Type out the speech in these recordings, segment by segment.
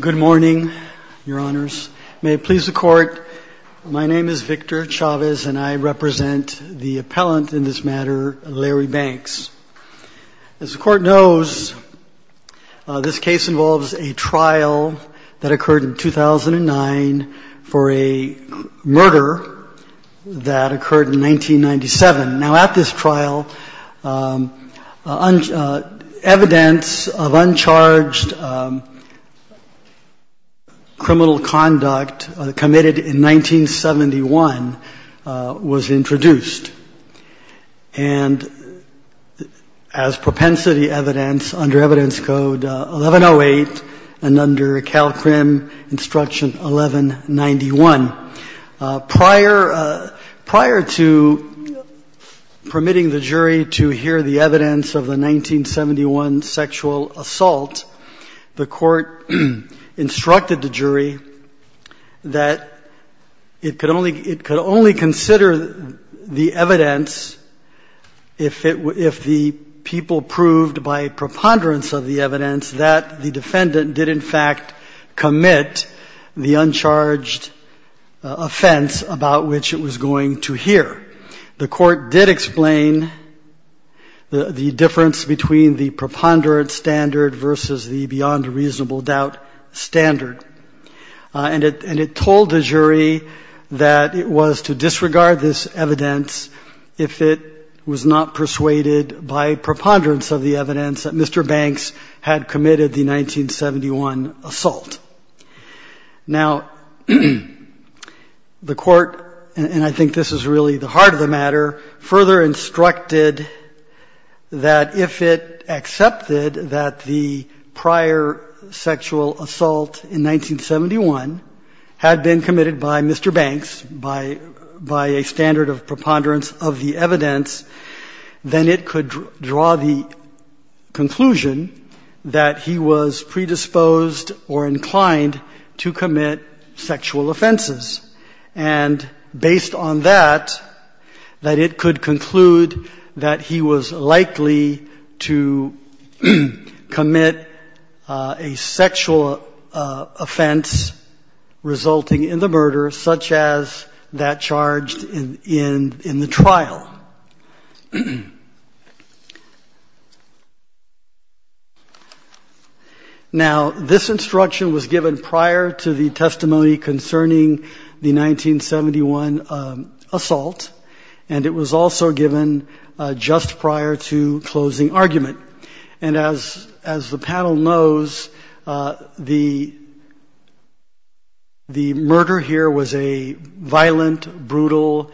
Good morning, Your Honors. May it please the Court, my name is Victor Chavez and I represent the appellant in this matter, Larry Banks. As the Court knows, this case involves a trial that occurred in 2009 for a murder that occurred in 1997. Now, at this trial, evidence of uncharged criminal conduct committed in 1971 was introduced. And as propensity under Evidence Code 1108 and under CalCrim Instruction 1191. Prior to permitting the jury to hear the evidence of the 1971 sexual assault, the Court instructed the jury that it could only consider the evidence if the people proved, by the jury by preponderance of the evidence, that the defendant did, in fact, commit the uncharged offense about which it was going to hear. The Court did explain the difference between the preponderance standard versus the beyond reasonable doubt standard. And it told the jury that it was to disregard this evidence if it was not persuaded by preponderance of the evidence that Mr. Banks had committed the 1971 assault. Now, the Court, and I think this is really the heart of the matter, further instructed that if it accepted that the prior sexual assault in 1971 had been committed by Mr. Banks, then it could draw the conclusion that he was predisposed or inclined to commit sexual offenses. And based on that, that it could conclude that he was likely to commit a sexual offense resulting in the murder, such as that charged in 1971. In the trial. Now, this instruction was given prior to the testimony concerning the 1971 assault, and it was also given just prior to closing argument. And as the panel knows, the murder here was a violent, brutal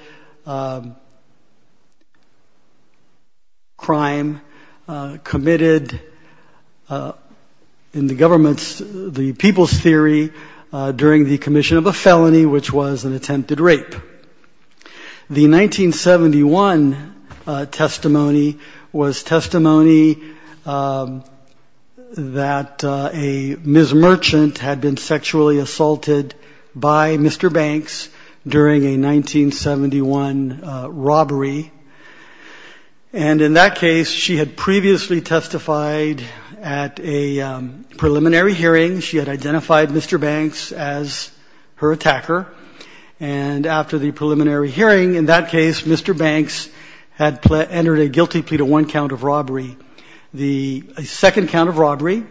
crime committed, in the government's, the people's theory, during the commission of a felony, which was an attempted rape. The 1971 testimony was testimony that a Ms. Merchant had been sexually assaulted by Mr. Banks during a 1971 robbery. And in that case, she had previously testified at a preliminary hearing. She had identified Mr. Banks as her attacker. And after the preliminary hearing, in that case, Mr. Banks had entered a guilty plea to one count of robbery. The second count of robbery,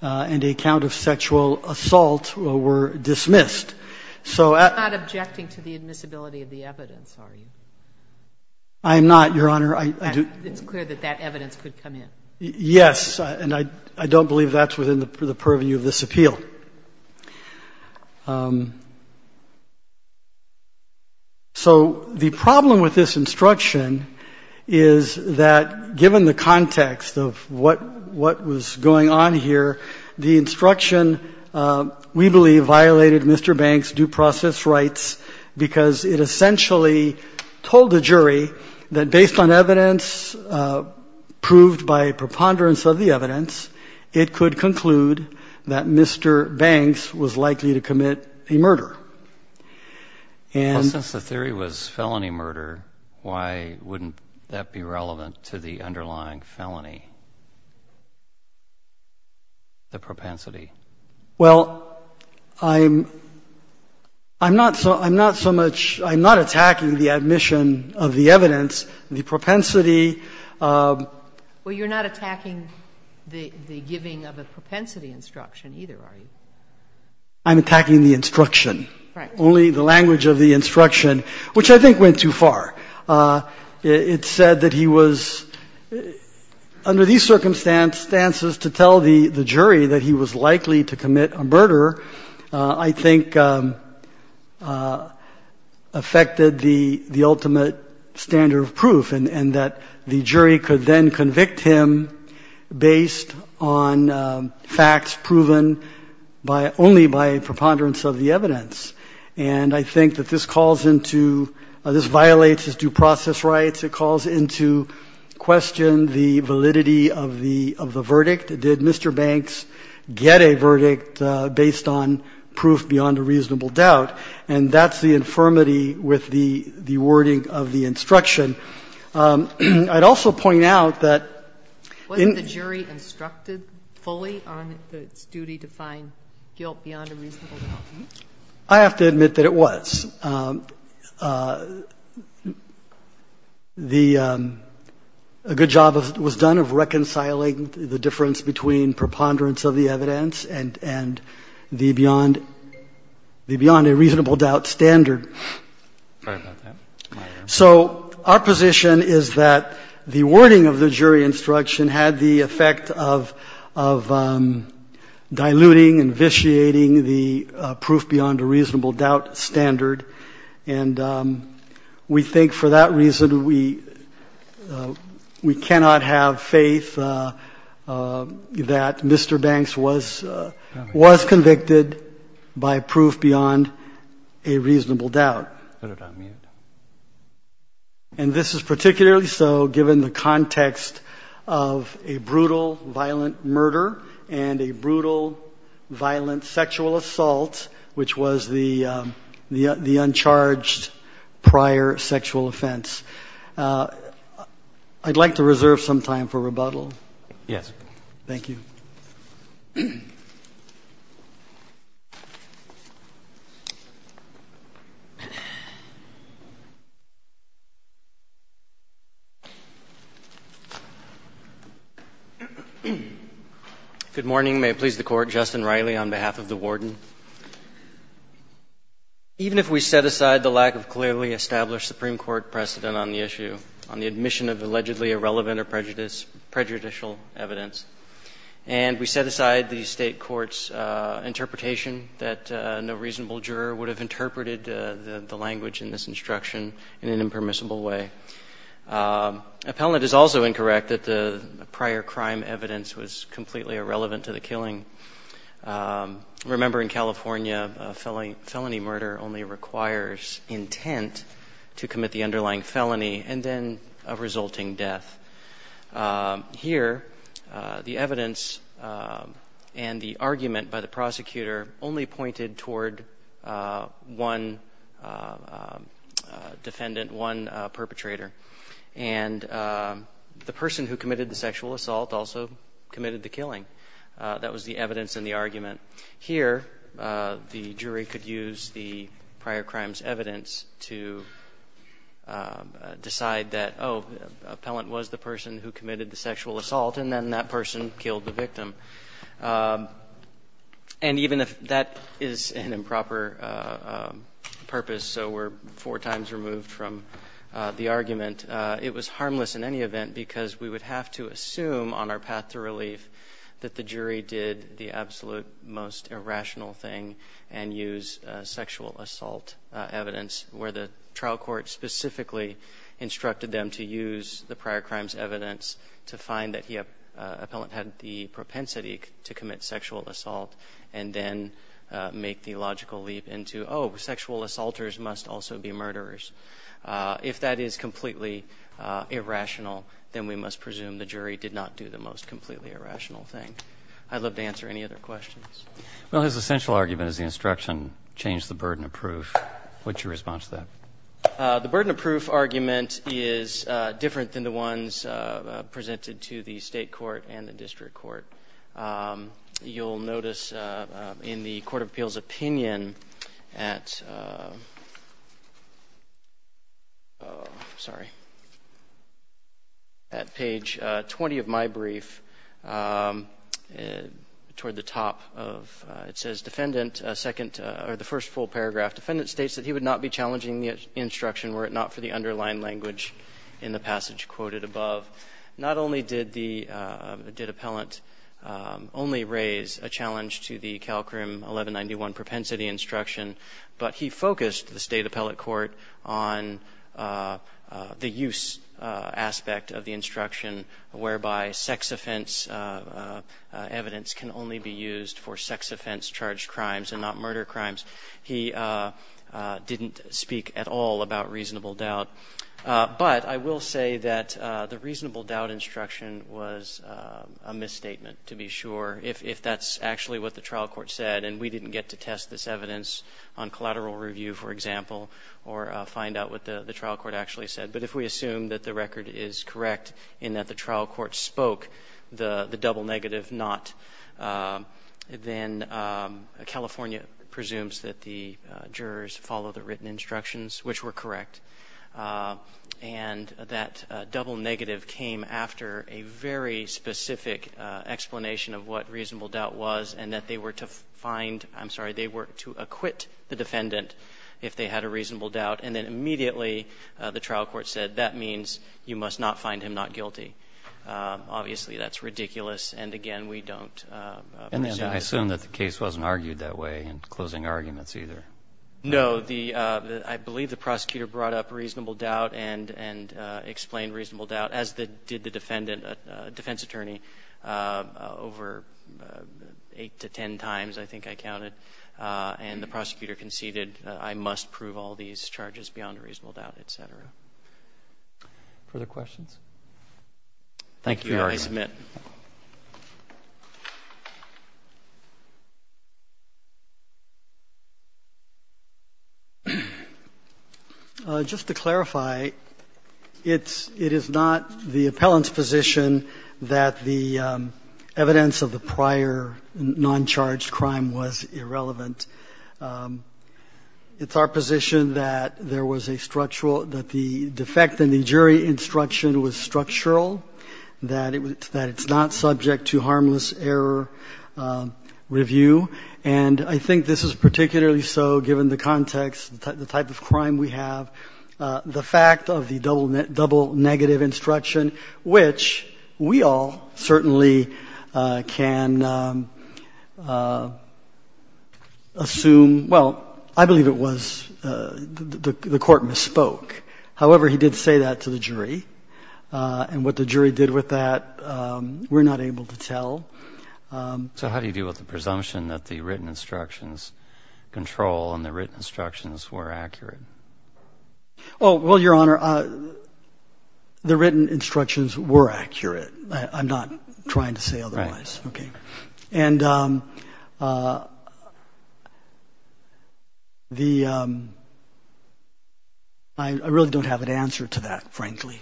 and a count of sexual assault were dismissed. So at. You're not objecting to the admissibility of the evidence, are you? I am not, Your Honor. I do. It's clear that that evidence could come in. Yes. And I don't believe that's within the purview of this appeal. So the problem with this instruction is that, given the context of what was going on here, the instruction, we believe, violated Mr. Banks' due process rights, because it essentially told the jury that, based on evidence proved by preponderance of the evidence, it could conclude that Mr. Banks was likely to commit a murder. Well, since the theory was felony murder, why wouldn't that be relevant to the underlying felony, the propensity? Well, I'm not so much – I'm not attacking the admission of the evidence. The propensity of – Well, you're not attacking the giving of a propensity instruction, either, are you? I'm attacking the instruction. Right. Only the language of the instruction, which I think went too far. It said that he was – under these circumstances, to tell the jury that he was likely to commit a murder, I think, affected the ultimate standard of proof, and that the jury could then convict him based on facts proven only by preponderance of the evidence. And I think that this calls into question the validity of the verdict. Did Mr. Banks get a verdict based on proof beyond a reasonable doubt? And that's the infirmity with the wording of the instruction. I'd also point out that in – Wasn't the jury instructed fully on its duty to find guilt beyond a reasonable doubt? I have to admit that it was. The – a good job was done of reconciling the difference between preponderance of the evidence and the beyond a reasonable doubt standard. Right about that. So our position is that the wording of the jury instruction had the effect of diluting, invitiating the proof beyond a reasonable doubt standard. And we think for that reason we cannot have faith that Mr. Banks was convicted by proof beyond a reasonable doubt. And this is particularly so given the context of a brutal, violent murder and a brutal violent sexual assault, which was the uncharged prior sexual offense. I'd like to reserve some time for rebuttal. Yes. Thank you. Good morning. May it please the Court. Justin Riley on behalf of the Warden. Even if we set aside the lack of clearly established Supreme Court precedent on the issue, on the admission of allegedly irrelevant or prejudicial evidence, and we set aside the State court's interpretation that no reasonable juror would have interpreted the language in this instruction in an impermissible way, appellant is also incorrect that the prior crime evidence was completely irrelevant to the killing. Remember in California, felony murder only requires intent to commit the underlying felony and then a resulting death. Here, the evidence and the argument by the prosecutor only pointed toward one defendant, one perpetrator. And the person who committed the sexual assault also committed the killing. That was the evidence in the argument. Here, the jury could use the person who committed the sexual assault and then that person killed the victim. And even if that is an improper purpose, so we're four times removed from the argument, it was harmless in any event because we would have to assume on our path to relief that the jury did the absolute most irrational thing and use sexual assault evidence where the evidence to find that the appellant had the propensity to commit sexual assault and then make the logical leap into, oh, sexual assaulters must also be murderers. If that is completely irrational, then we must presume the jury did not do the most completely irrational thing. I'd love to answer any other questions. Well, his essential argument is the instruction, change the burden of proof. What's your response to that? The burden of proof argument is different than the ones presented to the state court and the district court. You'll notice in the Court of Appeals opinion at, oh, sorry, at page 20 of my brief, toward the top of, it says defendant, second, or the first full were it not for the underlying language in the passage quoted above. Not only did the, did appellant only raise a challenge to the Calcrim 1191 propensity instruction, but he focused the state appellate court on the use aspect of the instruction whereby sex offense evidence can only be used for sex offense charged crimes and not murder crimes. He didn't speak at all about reasonable doubt, but I will say that the reasonable doubt instruction was a misstatement, to be sure, if that's actually what the trial court said, and we didn't get to test this evidence on collateral review, for example, or find out what the trial court actually said. But if we assume that the record is correct in that the jurors follow the written instructions, which were correct, and that double negative came after a very specific explanation of what reasonable doubt was and that they were to find, I'm sorry, they were to acquit the defendant if they had a reasonable doubt, and then immediately the trial court said that means you must not find him not guilty. Obviously, that's ridiculous, and again, we don't. And I assume that the case wasn't argued that way in closing arguments either. No. I believe the prosecutor brought up reasonable doubt and explained reasonable doubt, as did the defense attorney over eight to ten times, I think I counted, and the prosecutor conceded I must prove all these charges beyond a reasonable doubt, et cetera. Further questions? Thank you. I submit. Just to clarify, it's not the appellant's position that the evidence of the prior non-charged crime was irrelevant. It's our position that there was a structural – that the defect in the jury instruction was structural, that it's not subject to harmless error review. And I think this is particularly so given the context, the type of crime we have, the fact of the double negative instruction, which we all certainly can assume – well, I believe it was the court misspoke. However, he did say that to the jury, and what the jury did with that, we're not able to tell. So how do you deal with the presumption that the written instructions control and the written instructions were accurate? Oh, well, Your Honor, the written instructions were accurate. I'm not trying to say otherwise. Right. Okay. And the – I really don't have an answer to that, frankly.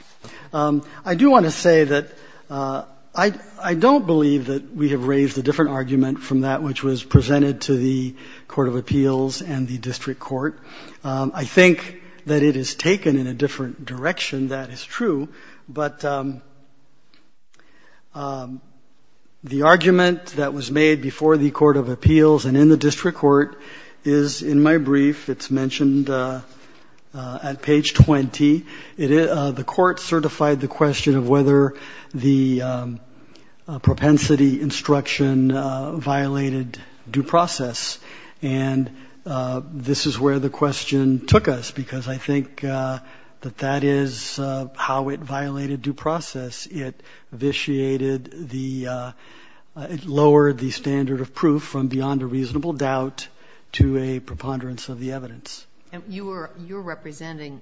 I do want to say that I don't believe that we have raised a different argument from that which was presented to the court of appeals and the district court. I think that it is taken in a different direction. That is true. But the argument that was made before the court of appeals and in the district court is in my brief. It's mentioned at page 20. The court certified the question of whether the propensity instruction violated due process. And this is where the question took us, because I think that that is how it violated due process. It vitiated the – it lowered the standard of proof from beyond a reasonable doubt to a preponderance of the evidence. And you were representing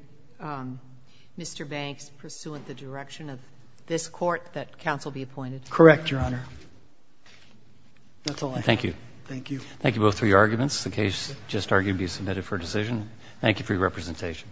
Mr. Banks pursuant to the direction of this court that counsel be appointed? Correct, Your Honor. That's all I have. Thank you. Thank you. Thank you both for your arguments. The case just argued to be submitted for decision. Thank you for your representation.